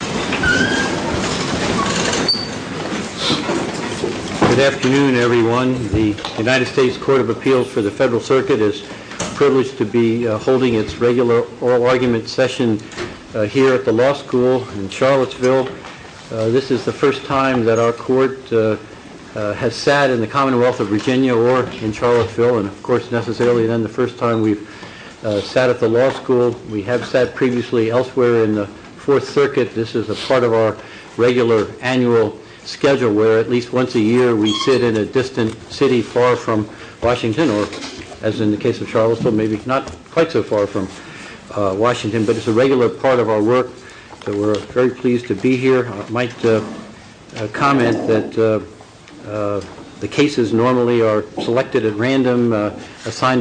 Good afternoon everyone. The United States Court of Appeals for the Federal Circuit is privileged to be holding its regular oral argument session here at the law school in Charlottesville. This is the first time that our court has sat in the Commonwealth of Virginia or in Charlottesville and of course necessarily then the first time we've sat at the law school. We have sat previously elsewhere in the Fourth Circuit. This is a part of our regular annual schedule where at least once a year we sit in a distant city far from Washington or as in the case of Charlottesville maybe not quite so far from Washington but it's a regular part of our work so we're very pleased to be here. I might comment that the cases normally are selected at random and as far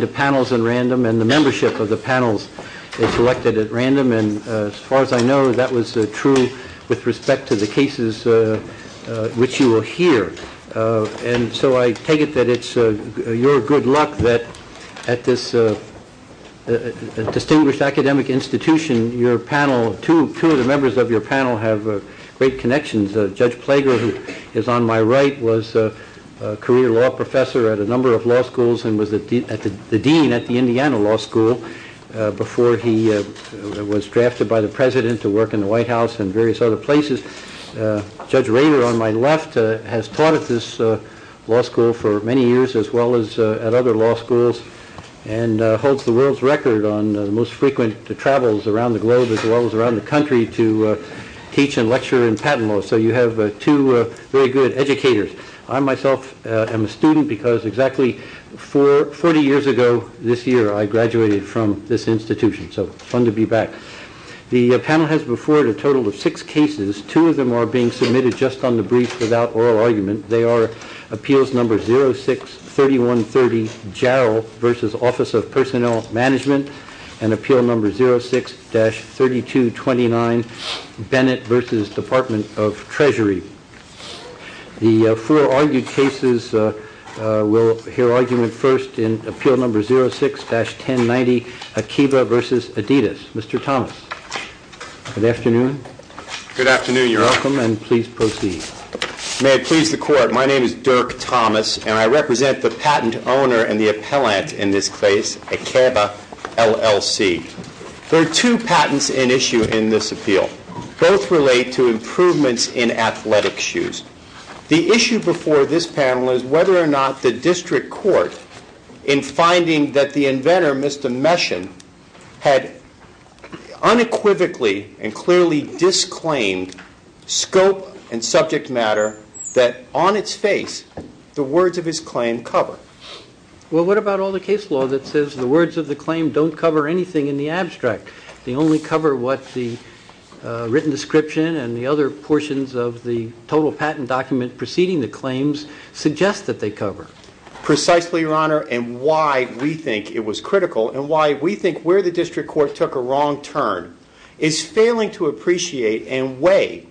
as I know that was true with respect to the cases which you will hear and so I take it that it's your good luck that at this distinguished academic institution your panel, two of the members of your panel have great connections. Judge Plager who is on my right was a career law professor at a number of law schools and was the dean at the Indiana Law School before he was drafted by the president to work in the White House and various other places. Judge Rader on my left has taught at this law school for many years as well as at other law schools and holds the world's record on the most frequent travels around the globe as well as around the country to teach and lecture in patent law so you have two very good educators. I myself am a student because exactly 40 years ago this year I graduated from this institution so fun to be back. The panel has before it a total of six cases, two of them are being submitted just on the brief without oral argument. They are appeals number 06-3130 Jarrell versus Office of Personnel Management and appeal number 06-3229 Bennett versus Department of Treasury. The four argued cases will hear argument first in appeal number 06-1090 Akiva versus Adidas. Mr. Thomas, good afternoon. Good afternoon Your Honor. Welcome and please proceed. May it please the court my name is Akiva LLC. There are two patents in issue in this appeal. Both relate to improvements in athletic shoes. The issue before this panel is whether or not the district court in finding that the inventor Mr. Meshin had unequivocally and clearly disclaimed scope and subject matter that on its face the words of the claim don't cover anything in the abstract. They only cover what the written description and the other portions of the total patent document preceding the claims suggest that they cover. Precisely Your Honor and why we think it was critical and why we think where the district court took a wrong turn is failing to appreciate and weigh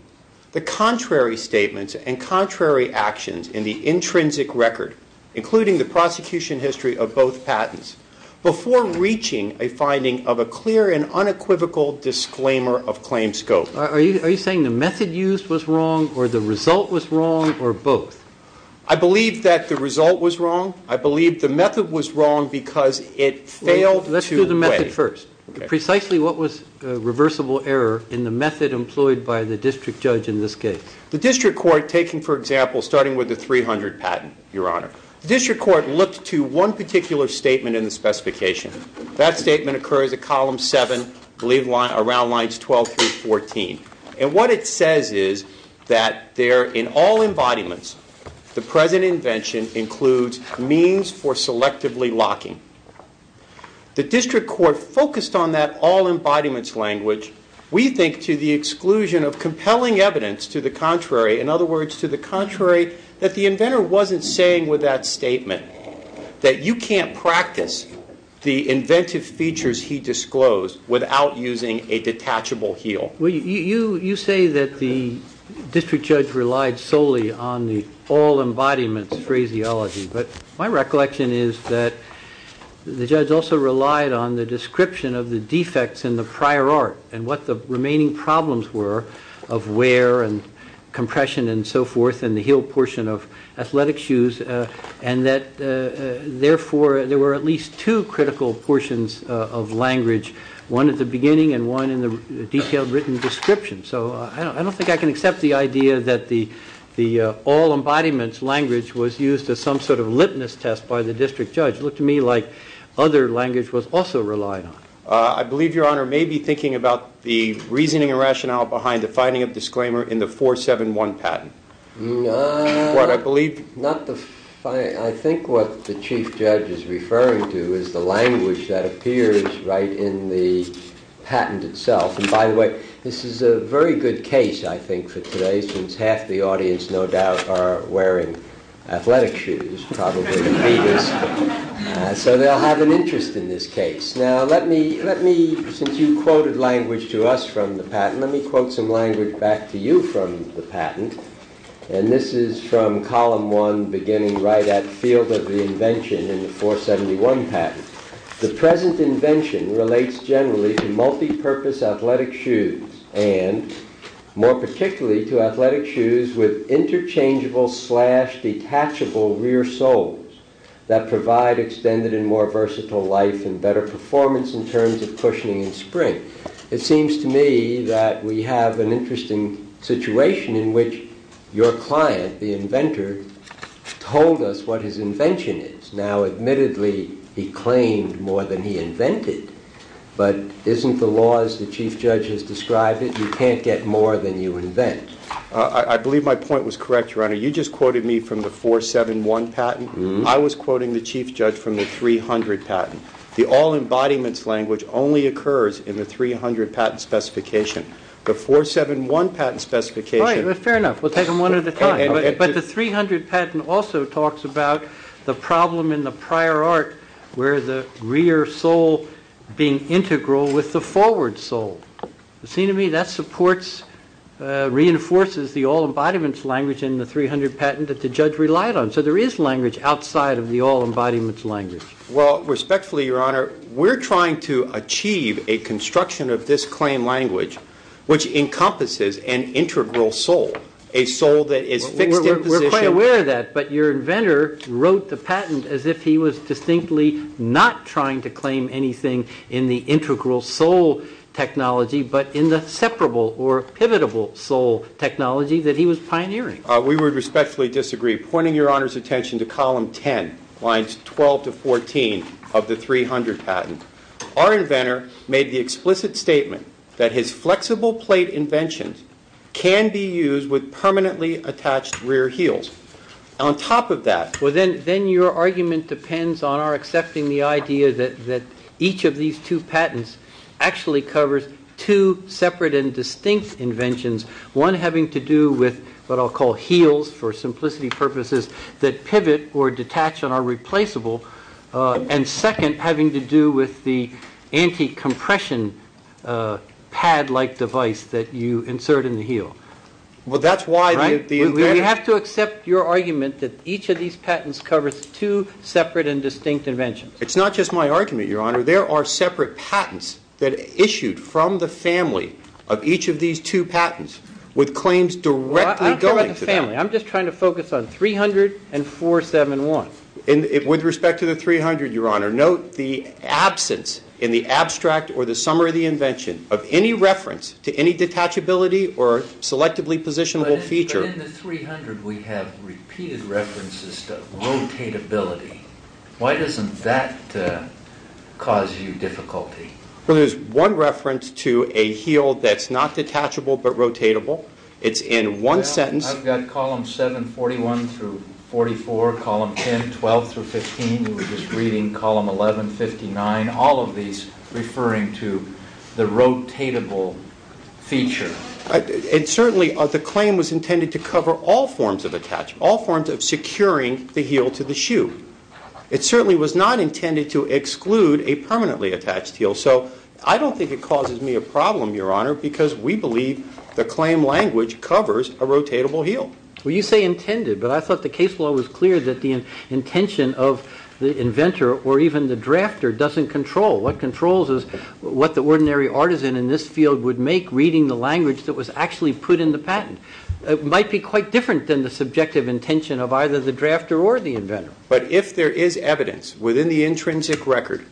the contrary statements and contrary actions in the intrinsic record including the prosecution history of both patents before reaching a finding of a clear and unequivocal disclaimer of claim scope. Are you saying the method used was wrong or the result was wrong or both? I believe that the result was wrong. I believe the method was wrong because it failed to weigh. Let's do the method first. Precisely what was reversible error in the method employed by the district judge in this case? The district court taking for example starting with the 300 patent Your Honor. The district court looked to one particular statement in the specification. That statement occurs at column 7 I believe around lines 12 through 14 and what it says is that there in all embodiments the present invention includes means for selectively locking. The district court focused on that all embodiments language. We think to the exclusion of compelling evidence to the contrary in other words to the contrary that the inventor wasn't saying with that statement that you can't practice the inventive features he disclosed without using a detachable heel. You say that the district judge relied solely on the all embodiments phraseology but my the judge also relied on the description of the defects in the prior art and what the remaining problems were of wear and compression and so forth in the heel portion of athletic shoes and that therefore there were at least two critical portions of language. One at the beginning and one in the detailed written description. So I don't think I can accept the idea that the all embodiments language was used as some sort of litmus test by the district judge. It looked to me like other language was also relied on. I believe Your Honor may be thinking about the reasoning and rationale behind the finding of disclaimer in the 471 patent. I think what the chief judge is referring to is the language that appears right in the patent itself and by the way this is a very good case I think for today since half the audience no doubt are wearing athletic shoes. So they'll have an interest in this case. Now let me since you quoted language to us from the patent let me quote some language back to you from the patent and this is from column one beginning right at field of the invention in the 471 patent. The present invention relates generally to multi-purpose athletic shoes and more particularly to athletic shoes with interchangeable slash detachable rear soles that provide extended and more versatile life and better performance in terms of cushioning and spring. It seems to me that we have an interesting situation in which your client the inventor told us what his invention is. Now admittedly he claimed more than he invented but isn't the laws the chief judge has you can't get more than you invent. I believe my point was correct your honor you just quoted me from the 471 patent. I was quoting the chief judge from the 300 patent. The all embodiments language only occurs in the 300 patent specification. The 471 patent specification. Fair enough we'll take them one at a time but the 300 patent also talks about the problem in the prior art where the rear sole being integral with the forward sole. It seems to me that supports reinforces the all embodiments language in the 300 patent that the judge relied on. So there is language outside of the all embodiments language. Well respectfully your honor we're trying to achieve a construction of this claim language which encompasses an integral sole. A sole that is fixed in position. We're quite aware of that but your anything in the integral sole technology but in the separable or pivotable sole technology that he was pioneering. We would respectfully disagree pointing your honors attention to column 10 lines 12 to 14 of the 300 patent. Our inventor made the explicit statement that his flexible plate inventions can be used with permanently attached rear heels. On top of that. Well then then your argument depends on our accepting the idea that that each of these two patents actually covers two separate and distinct inventions. One having to do with what I'll call heels for simplicity purposes that pivot or detach and are replaceable and second having to do with the anti-compression pad like device that you insert in the heel. Well that's why we have to accept your argument that each of these patents covers two separate and distinct inventions. It's not just my argument your honor. There are separate patents that issued from the family of each of these two patents with claims directly going to the family. I'm just trying to focus on 300 and 471. With respect to the 300 your honor note the absence in the abstract or the summary of the invention of any reference to any detachability or selectively positionable feature. But in the 300 we have repeated references to rotatability. Why doesn't that cause you difficulty. Well there's one reference to a heel that's not detachable but rotatable. It's in one sentence. I've got column 741 through 44, column 10, 12 through 15. We were just reading column 11, 59. All of these referring to the rotatable feature. And certainly the claim was intended to cover all forms of attachment. All forms of securing the heel to the shoe. It certainly was not intended to exclude a permanently attached heel. So I don't think it causes me a problem your honor because we believe the claim language covers a rotatable heel. Well you say intended but I thought the case law was clear that the intention of the inventor or even the drafter doesn't control. What controls is what the ordinary artisan in this field would make reading the language that was actually put in the patent. It might be quite different than the subjective intention of either the drafter or the inventor. But if there is evidence within the intrinsic record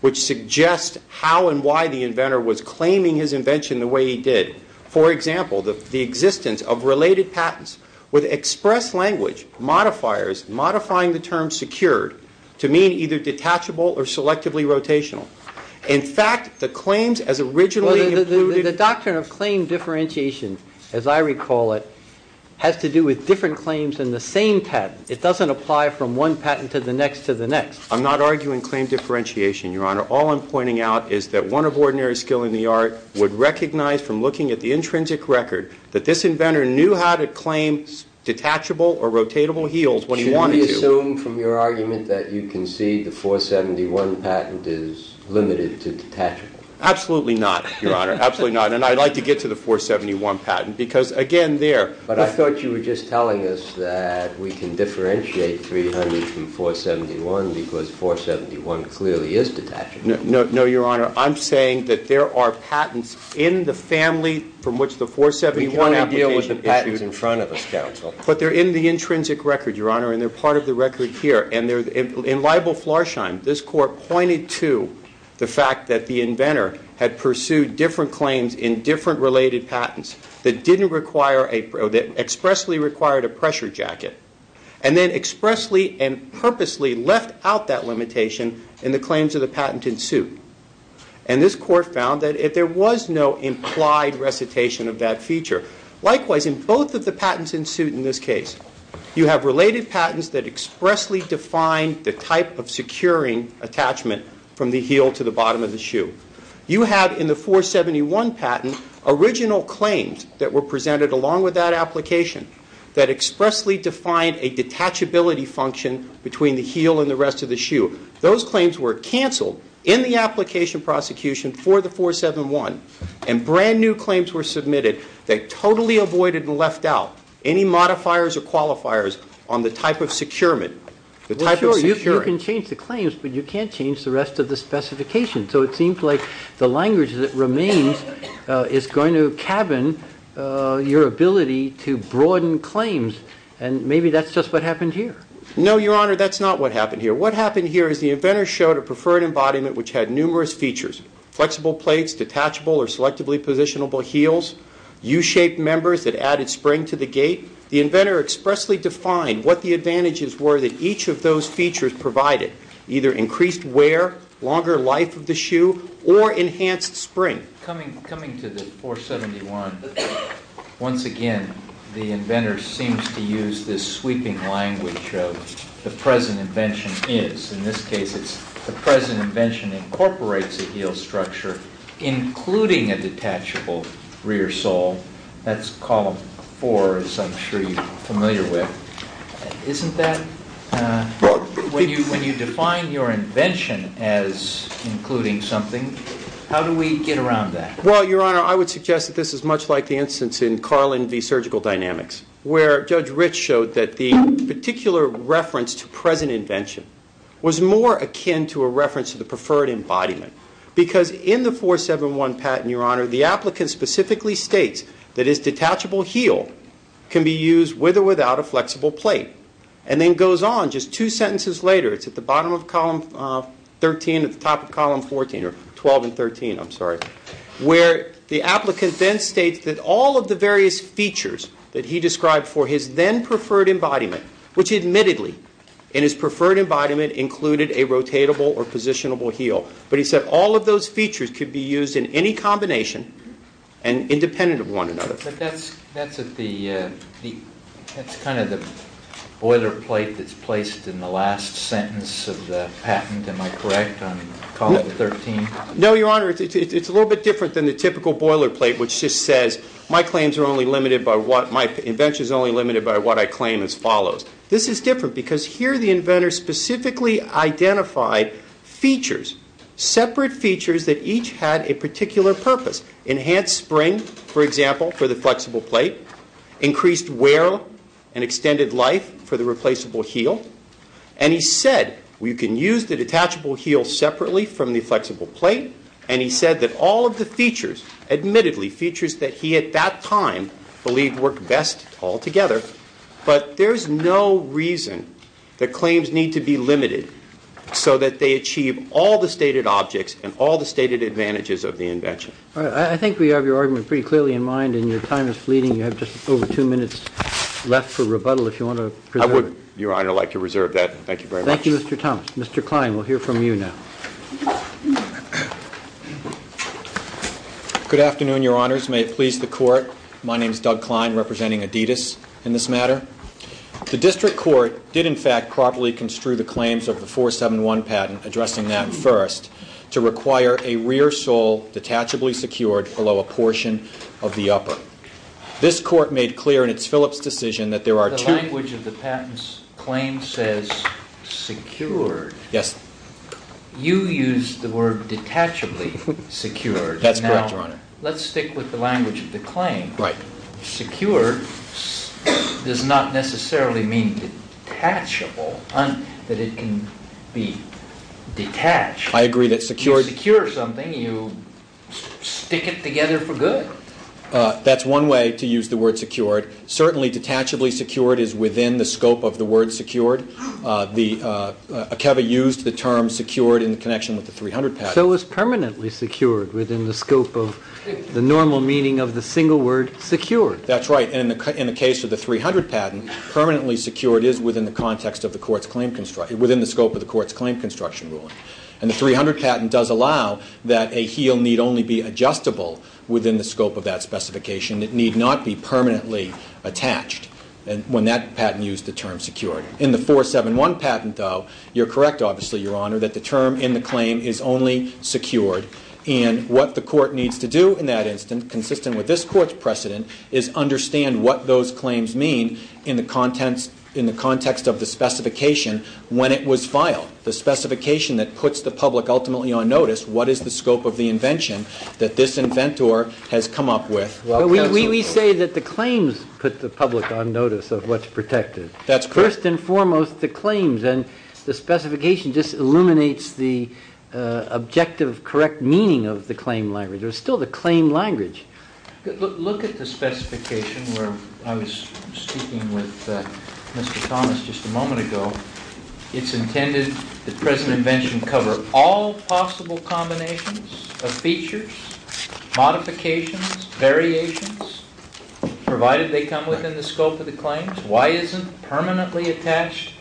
which suggests how and why the inventor was claiming his invention the way he did. For example the existence of related patents with express language modifiers modifying the term secured to mean either detachable or selectively rotational. In fact the claims as originally the doctrine of claim differentiation as I recall it has to do with different claims in the same patent. It doesn't apply from one patent to the next to the next. I'm not arguing claim differentiation your honor. All I'm pointing out is that one of ordinary skill in the art would recognize from looking at the intrinsic record that this inventor knew how to claim detachable or rotatable heels when he wanted to. Should we assume from your argument that you concede the 471 patent is limited to detachable? Absolutely not your honor. Absolutely not. And I'd like to get to the 471 patent because again there. But I thought you were just telling us that we can differentiate 300 from 471 because 471 clearly is detachable. No your honor I'm saying that there are patents in the family from which the 471 application is issued. We want to deal with the patents in front of us counsel. But they're in the intrinsic record your honor and they're part of the record here. And in Liable Flarsheim this court pointed to the fact that the inventor had pursued different claims in different related patents that expressly required a pressure jacket and then expressly and purposely left out that limitation in the claims of the patent in suit. And this court found that there was no implied recitation of that feature. Likewise in both of the patents in suit in this case you have related patents that expressly define the type of securing attachment from the heel to the bottom of the shoe. You have in the 471 patent original claims that were presented along with that application that expressly defined a detachability function between the heel and the rest of the shoe. Those claims were canceled in the application prosecution for the 471 and brand new claims were submitted that totally avoided and left out any modifiers or qualifiers on the type of securement. You can change the claims but you can't change the rest of the specification. So it seems like the language that remains is going to cabin your ability to broaden claims and maybe that's just what happened here. No, Your Honor, that's not what happened here. What happened here is the inventor showed a preferred embodiment which had numerous features. Flexible plates, detachable or selectively positionable heels, U-shaped members that added spring to the gait. The inventor expressly defined what the advantages were that each of those features provided. Either increased wear, longer life of the shoe, or enhanced spring. Coming to the 471, once again, the inventor seems to use this sweeping language of the present invention is. In this case, it's the present invention incorporates a heel structure including a detachable rear sole. That's column four as I'm sure you're familiar with. Isn't that, when you define your invention as including something, how do we get around that? And then goes on just two sentences later, it's at the bottom of column 13, at the top of column 14, or 12 and 13, I'm sorry, where the applicant then states that all of the various features that he described for his then preferred embodiment, which admittedly in his preferred embodiment included a rotatable or positionable heel, but he said all of those features could be used in any combination and independent of one another. But that's at the, that's kind of the boilerplate that's placed in the last sentence of the patent, am I correct, on column 13? No, your honor, it's a little bit different than the typical boilerplate which just says my claims are only limited by what, my invention is only limited by what I claim as follows. This is different because here the inventor specifically identified features, separate features that each had a particular purpose. Enhanced spring, for example, for the flexible plate. Increased wear and extended life for the replaceable heel. And he said, we can use the detachable heel separately from the flexible plate. And he said that all of the features, admittedly features that he at that time believed worked best all together. But there's no reason that claims need to be limited so that they achieve all the stated objects and all the stated advantages of the invention. All right, I think we have your argument pretty clearly in mind and your time is fleeting. You have just over two minutes left for rebuttal if you want to preserve. I would, your honor, like to reserve that. Thank you very much. Thank you, Mr. Thomas. Mr. Klein, we'll hear from you now. Good afternoon, your honors. May it please the court. My name is Doug Klein, representing Adidas in this matter. The district court did, in fact, properly construe the claims of the 471 patent, addressing that first, to require a rear sole detachably secured below a portion of the upper. This court made clear in its Phillips decision that there are two- The language of the patent's claim says secured. Yes. That's correct, your honor. Let's stick with the language of the claim. Right. Secured does not necessarily mean detachable, that it can be detached. I agree that secured- If you secure something, you stick it together for good. That's one way to use the word secured. Certainly, detachably secured is within the scope of the word secured. Akeva used the term secured in connection with the 300 patent. So it's permanently secured within the scope of the normal meaning of the single word secured. That's right. In the case of the 300 patent, permanently secured is within the scope of the court's claim construction ruling. And the 300 patent does allow that a heel need only be adjustable within the scope of that specification. It need not be permanently attached when that patent used the term secured. In the 471 patent, though, you're correct, obviously, your honor, that the term in the claim is only secured. And what the court needs to do in that instance, consistent with this court's precedent, is understand what those claims mean in the context of the specification when it was filed. The specification that puts the public ultimately on notice, what is the scope of the invention that this inventor has come up with? Well, we say that the claims put the public on notice of what's protected. First and foremost, the claims. And the specification just illuminates the objective correct meaning of the claim language. It was still the claim language. Look at the specification where I was speaking with Mr. Thomas just a moment ago. It's intended that present invention cover all possible combinations of features, modifications, variations, provided they come within the scope of the claims. Why isn't permanently attached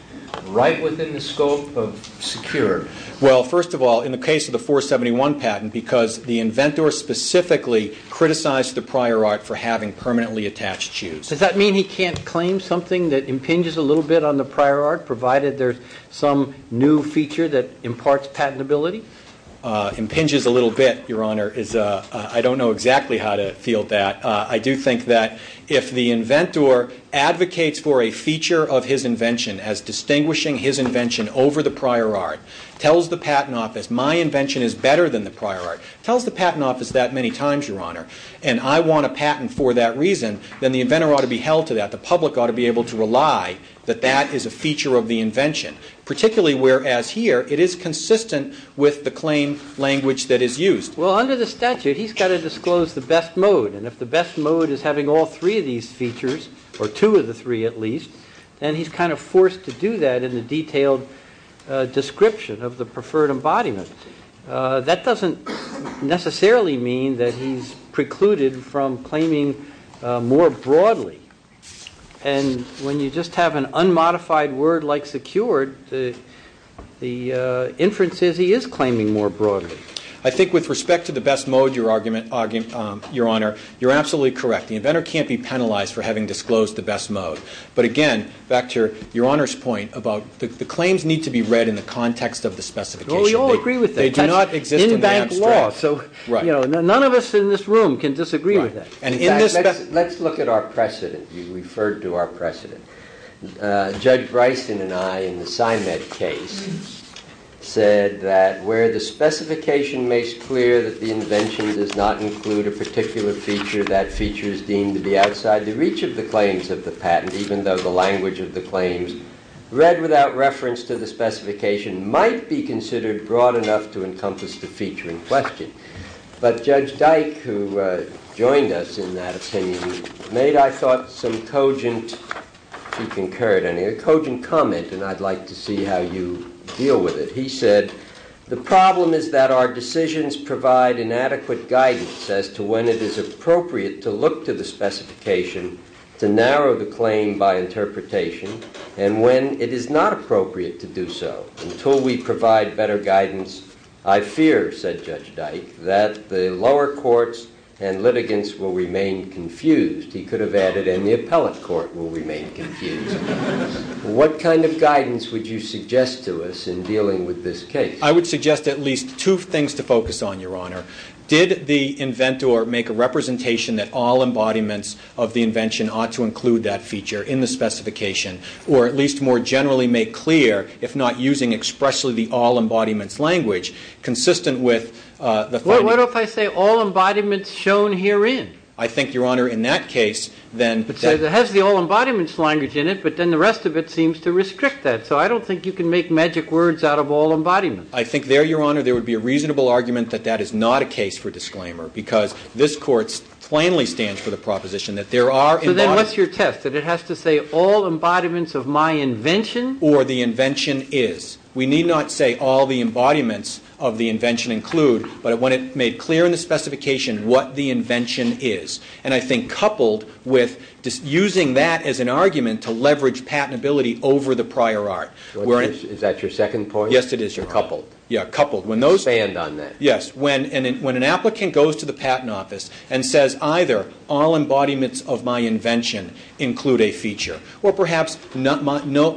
right within the scope of secured? Well, first of all, in the case of the 471 patent, because the inventor specifically criticized the prior art for having permanently attached shoes. Does that mean he can't claim something that impinges a little bit on the prior art, provided there's some new feature that imparts patentability? Impinges a little bit, your honor, is, I don't know exactly how to field that. I do think that if the inventor advocates for a feature of his invention as distinguishing his invention over the prior art, tells the patent office, my invention is better than the prior art, tells the patent office that many times, your honor, and I want a patent for that reason, then the inventor ought to be held to that. The public ought to be able to rely that that is a feature of the invention. Particularly whereas here, it is consistent with the claim language that is used. Well, under the statute, he's got to disclose the best mode. And if the best mode is having all three of these features, or two of the three at least, then he's kind of forced to do that in the detailed description of the preferred embodiment. That doesn't necessarily mean that he's precluded from claiming more broadly. And when you just have an unmodified word like secured, the inference is he is claiming more broadly. I think with respect to the best mode, your argument, your honor, you're absolutely correct. The inventor can't be penalized for having disclosed the best mode. But again, back to your honor's point about the claims need to be read in the context of the specification. Well, we all agree with that. They do not exist in the abstract. That's in bank law, so none of us in this room can disagree with that. And in this- Let's look at our precedent. You referred to our precedent. Judge Bryson and I, in the SIMED case, said that where the specification makes clear that the invention does not include a particular feature, that feature is deemed to be outside the reach of the claims of the patent, even though the language of the claims read without reference to the specification might be considered broad enough to encompass the feature in question. But Judge Dyke, who joined us in that opinion, made, I thought, some cogent- She concurred, and a cogent comment, and I'd like to see how you deal with it. He said, the problem is that our decisions provide inadequate guidance as to when it is appropriate to look to the specification to narrow the claim by interpretation, and when it is not appropriate to do so. Until we provide better guidance, I fear, said Judge Dyke, that the lower courts and litigants will remain confused, he could have added, and the appellate court will remain confused. What kind of guidance would you suggest to us in dealing with this case? I would suggest at least two things to focus on, Your Honor. Did the inventor make a representation that all embodiments of the invention ought to include that feature in the specification, or at least more generally make clear, if not using expressly the all-embodiments language, consistent with- What if I say all embodiments shown herein? I think, Your Honor, in that case, then- It says it has the all-embodiments language in it, but then the rest of it seems to restrict that, so I don't think you can make magic words out of all embodiments. I think there, Your Honor, there would be a reasonable argument that that is not a case for disclaimer, because this court plainly stands for the proposition that there are- So then what's your test, that it has to say all embodiments of my invention? Or the invention is. We need not say all the embodiments of the invention include, but when it made clear in the specification what the invention is. And I think coupled with using that as an argument to leverage patentability over the prior art. Is that your second point? Yes, it is. You're coupled. Yeah, coupled. Expand on that. Yes. When an applicant goes to the patent office and says either all embodiments of my invention include a feature, or perhaps no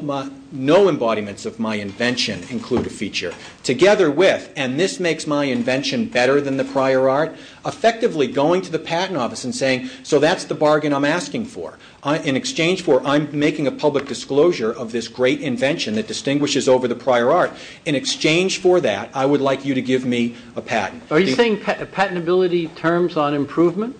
embodiments of my invention include a feature, together with, and this makes my invention better than the prior art, effectively going to the patent office and saying, so that's the bargain I'm asking for. In exchange for, I'm making a public disclosure of this great invention that distinguishes over the prior art. In exchange for that, I would like you to give me a patent. Are you saying patentability turns on improvement?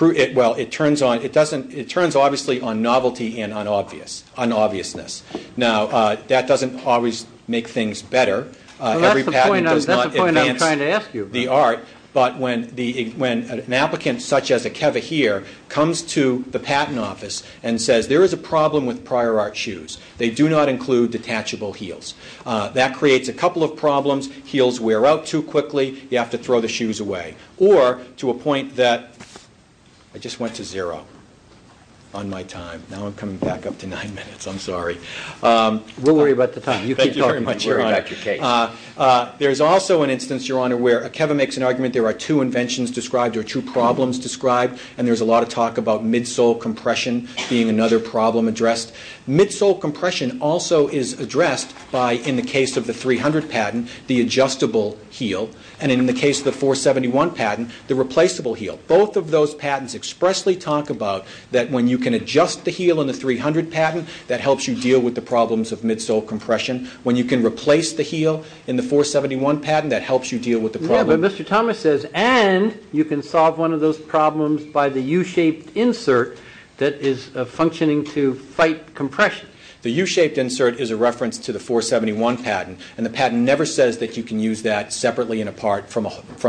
Well, it turns obviously on novelty and on obviousness. Now, that doesn't always make things better. That's the point I'm trying to ask you about. When an applicant such as Akeva here comes to the patent office and says there is a problem with prior art shoes. They do not include detachable heels. That creates a couple of problems. Heels wear out too quickly. You have to throw the shoes away. Or, to a point that, I just went to zero on my time. Now I'm coming back up to nine minutes. I'm sorry. We'll worry about the time. You keep talking. We'll worry about your case. There's also an instance, Your Honor, where Akeva makes an argument. There are two inventions described or two problems described. And there's a lot of talk about midsole compression being another problem addressed. Midsole compression also is addressed by, in the case of the 300 patent, the adjustable heel. And in the case of the 471 patent, the replaceable heel. Both of those patents expressly talk about that when you can adjust the heel in the 300 patent, that helps you deal with the problems of midsole compression. When you can replace the heel in the 471 patent, that helps you deal with the problem. Yeah, but Mr. Thomas says, and you can solve one of those problems by the U-shaped insert that is functioning to fight compression. The U-shaped insert is a reference to the 471 patent. And the patent never says that you can use that separately and apart from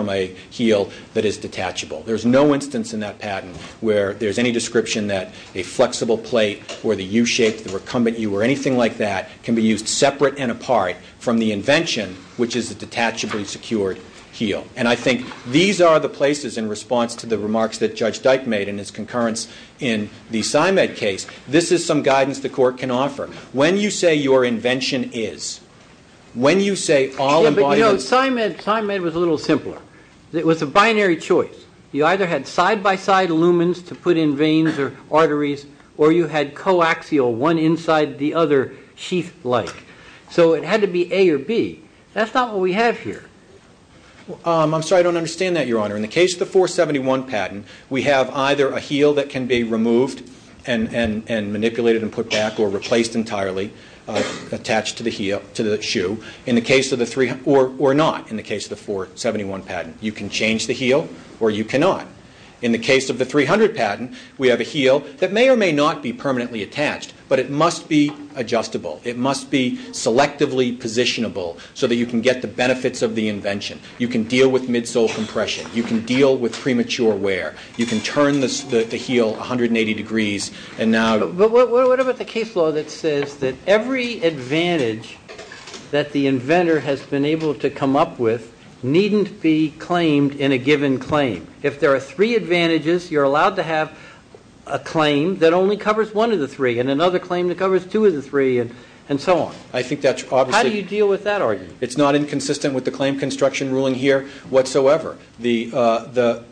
a heel that is detachable. There's no instance in that patent where there's any description that a flexible plate or the U-shaped, the recumbent U, or anything like that can be used separate and apart from the invention, which is a detachably secured heel. And I think these are the places in response to the remarks that Judge Dyke made in his concurrence in the PsyMed case. This is some guidance the court can offer. When you say your invention is, when you say all embodiments... Yeah, but you know, PsyMed was a little simpler. It was a binary choice. You either had side-by-side lumens to put in veins or arteries or you had coaxial, one inside the other, sheath-like. So it had to be A or B. That's not what we have here. I'm sorry, I don't understand that, Your Honor. In the case of the 471 patent, we have either a heel that can be removed and manipulated and put back or replaced entirely, attached to the heel, to the shoe, or not, in the case of the 471 patent. You can change the heel or you cannot. In the case of the 300 patent, we have a heel that may or may not be permanently attached, but it must be adjustable. It must be selectively positionable so that you can get the benefits of the invention. You can deal with midsole compression. You can deal with premature wear. You can turn the heel 180 degrees and now... But what about the case law that says that every advantage that the inventor has been able to come up with needn't be claimed in a given claim? If there are three advantages, you're allowed to have a claim that only covers one of the three and another claim that covers two of the three and so on. How do you deal with that argument? It's not inconsistent with the claim construction ruling here whatsoever. The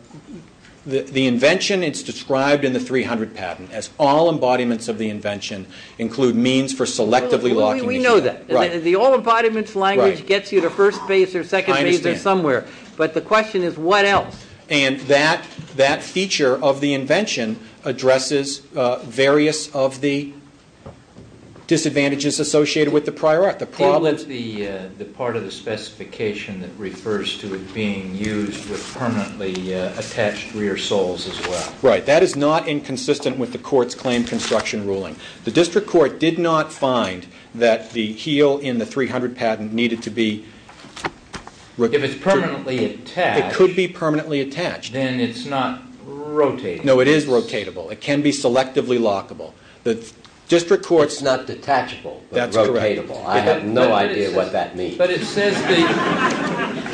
invention is described in the 300 patent as all embodiments of the invention include means for selectively locking the heel. We know that. The all embodiments language gets you to first base or second base or somewhere. But the question is what else? And that feature of the invention addresses various of the disadvantages associated with the prior art. It was the part of the specification that refers to it being used with permanently attached rear soles as well. Right. That is not inconsistent with the court's claim construction ruling. The district court did not find that the heel in the 300 patent needed to be... If it's permanently attached... It could be permanently attached. ...then it's not rotatable. No, it is rotatable. It can be selectively lockable. The district court's... It's not detachable but rotatable. That's correct. I have no idea what that means. The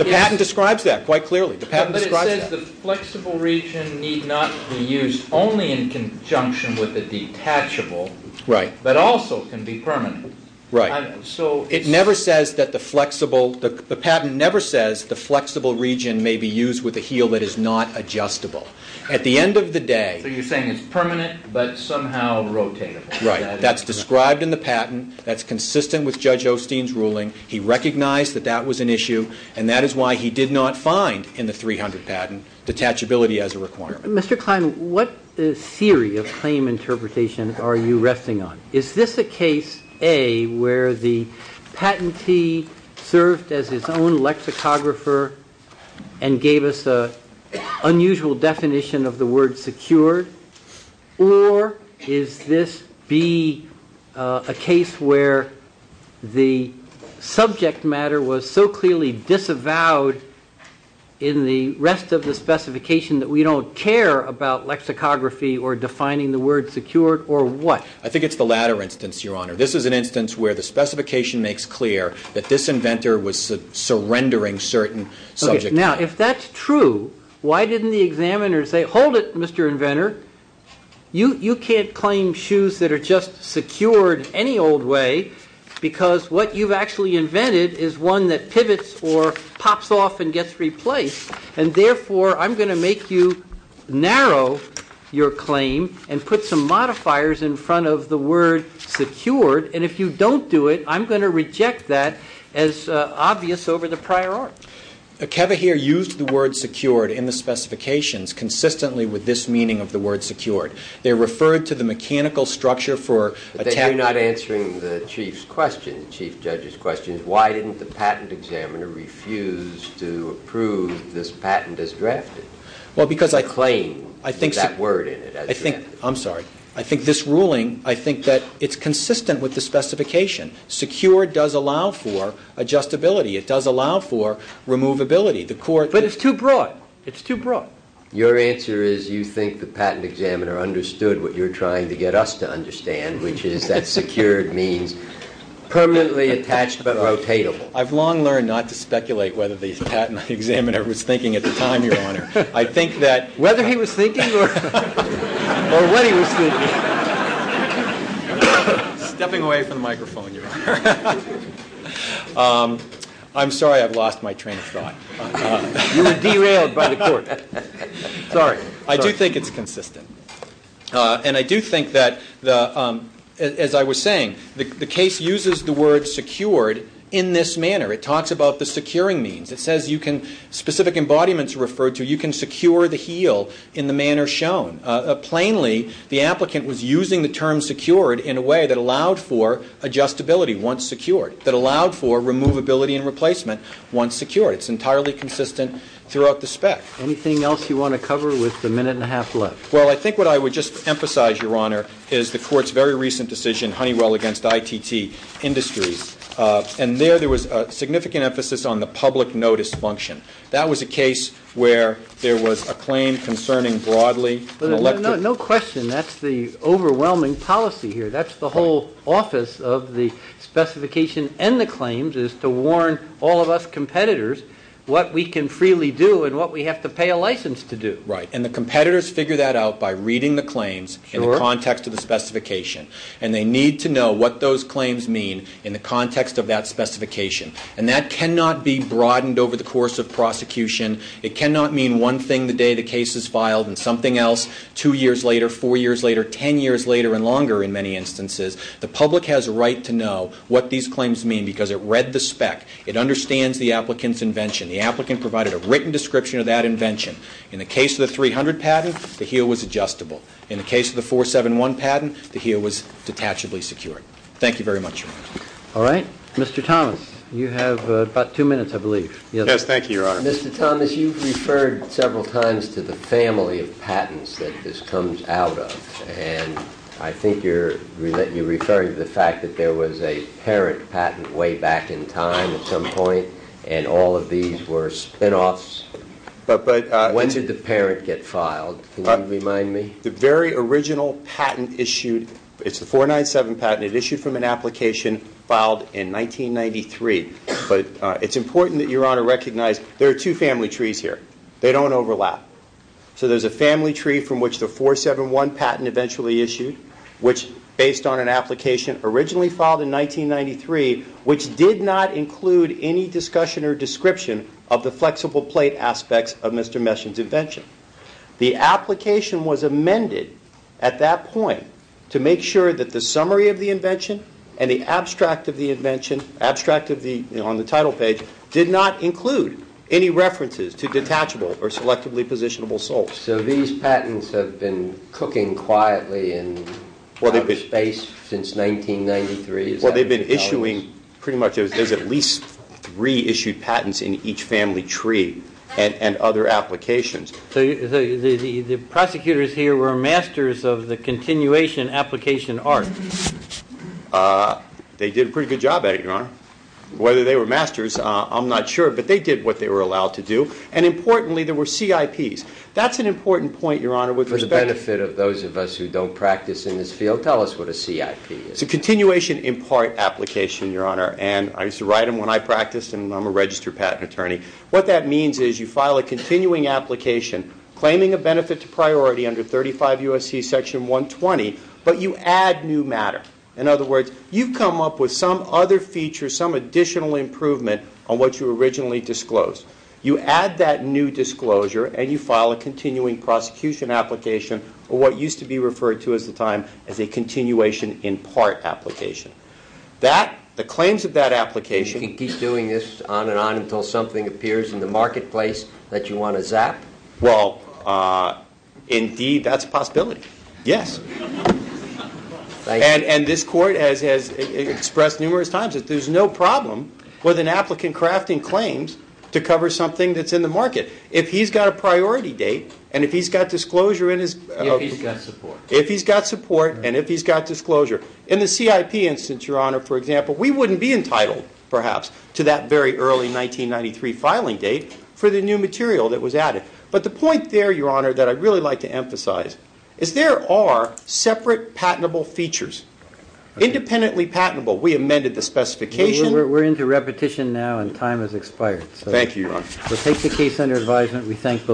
patent describes that quite clearly. But it says the flexible region need not be used only in conjunction with the detachable but also can be permanent. Right. It never says that the flexible... The patent never says the flexible region may be used with a heel that is not adjustable. At the end of the day... So you're saying it's permanent but somehow rotatable. Right. That's described in the patent. That's consistent with Judge Osteen's ruling. He recognized that that was an issue and that is why he did not find in the 300 patent detachability as a requirement. Mr. Klein, what theory of claim interpretation are you resting on? Is this a case, A, where the patentee served as his own lexicographer and gave us an unusual definition of the word secured? Or is this, B, a case where the subject matter was so clearly disavowed in the rest of the specification that we don't care about lexicography or defining the word secured or what? I think it's the latter instance, Your Honor. This is an instance where the specification makes clear that this inventor was surrendering certain subject matter. Now, if that's true, why didn't the examiner say, hold it, Mr. Inventor. You can't claim shoes that are just secured any old way because what you've actually invented is one that pivots or pops off and gets replaced. And therefore, I'm going to make you narrow your claim and put some modifiers in front of the word secured. And if you don't do it, I'm going to reject that as obvious over the prior art. Kevahir used the word secured in the specifications consistently with this meaning of the word secured. They're referred to the mechanical structure for... But then you're not answering the Chief's question, the Chief Judge's question. Why didn't the patent examiner refuse to approve this patent as drafted? Well, because I... Claim that word in it. I'm sorry. I think this ruling, I think that it's consistent with the specification. Secured does allow for adjustability. It does allow for removability. But it's too broad. It's too broad. Your answer is you think the patent examiner understood what you're trying to get us to understand, which is that secured means permanently attached but rotatable. I've long learned not to speculate whether the patent examiner was thinking at the time, Your Honor. I think that... Whether he was thinking or what he was thinking. Stepping away from the microphone, Your Honor. I'm sorry. I've lost my train of thought. You were derailed by the court. Sorry. I do think it's consistent. And I do think that, as I was saying, the case uses the word secured in this manner. It talks about the securing means. It says you can... Specific embodiments are referred to. You can secure the heel in the manner shown. Plainly, the applicant was using the term secured in a way that allowed for adjustability once secured, that allowed for removability and replacement once secured. It's entirely consistent throughout the spec. Anything else you want to cover with the minute and a half left? Well, I think what I would just emphasize, Your Honor, is the court's very recent decision, Honeywell against ITT Industries. And there, there was a significant emphasis on the public notice function. That was a case where there was a claim concerning broadly an electric... No question. That's the overwhelming policy here. That's the whole office of the specification and the claims is to warn all of us competitors what we can freely do and what we have to pay a license to do. Right. And the competitors figure that out by reading the claims in the context of the specification. And they need to know what those claims mean in the context of that specification. And that cannot be broadened over the course of prosecution. It cannot mean one thing the day the case is filed and something else two years later, four years later, ten years later and longer in many instances. The public has a right to know what these claims mean because it read the spec. It understands the applicant's invention. The applicant provided a written description of that invention. In the case of the 300 patent, the heel was adjustable. In the case of the 471 patent, the heel was detachably secured. Thank you very much, Your Honor. All right. Mr. Thomas, you have about two minutes, I believe. Yes, thank you, Your Honor. Mr. Thomas, you've referred several times to the family of patents that this comes out of. And I think you're referring to the fact that there was a parent patent way back in time at some point and all of these were spinoffs. When did the parent get filed? Can you remind me? The very original patent issued it's the 497 patent. It issued from an application filed in 1993. But it's important that Your Honor recognize there are two family trees here. They don't overlap. So there's a family tree from which the 471 patent eventually issued which based on an application originally filed in 1993 which did not include any discussion or description of the flexible plate aspects of Mr. Messin's invention. The application was amended at that point to make sure that the summary of the invention and the abstract of the invention abstract of the on the title page did not include any references to detachable or selectively positionable salts. So these patents have been cooking quietly in outer space since 1993? Well they've been issuing pretty much there's at least three issued patents in each family tree and other applications. So the prosecutors here were masters of the continuation application art. They did a pretty good job at it Your Honor. Whether they were masters I'm not sure but they did what they were allowed to do and importantly there were CIPs. That's an important point Your Honor with respect For the benefit of those of us who don't practice in this field tell us what a CIP is. It's a continuation in part application Your Honor and I used to write them when I practiced and I'm a registered patent attorney. What that means is you file a continuing application claiming a benefit to priority under 35 U.S.C. section 120 but you add new matter. In other words you come up with some other feature some additional improvement on what you originally disclosed. You add that new disclosure and you file a continuing prosecution application or what used to be referred to as the time as a continuation in part application. That the claims of that application You can keep doing this on and on until something appears in the marketplace that you want to zap? Well indeed that's a possibility. Yes. And this court has expressed numerous times that there's no problem with an applicant crafting claims to cover something that's in the market. If he's got a priority date and if he's got disclosure If he's got support and if he's got disclosure in the CIP instance Your Honor for example we wouldn't be entitled perhaps to that very early 1993 filing date for the new material that was added. But the point there Your Honor that I'd really like to emphasize is there are separate patentable features independently patentable. We amended the specification. We're into repetition now and time has expired. Thank you Your Honor. We'll take the case under advisement. We thank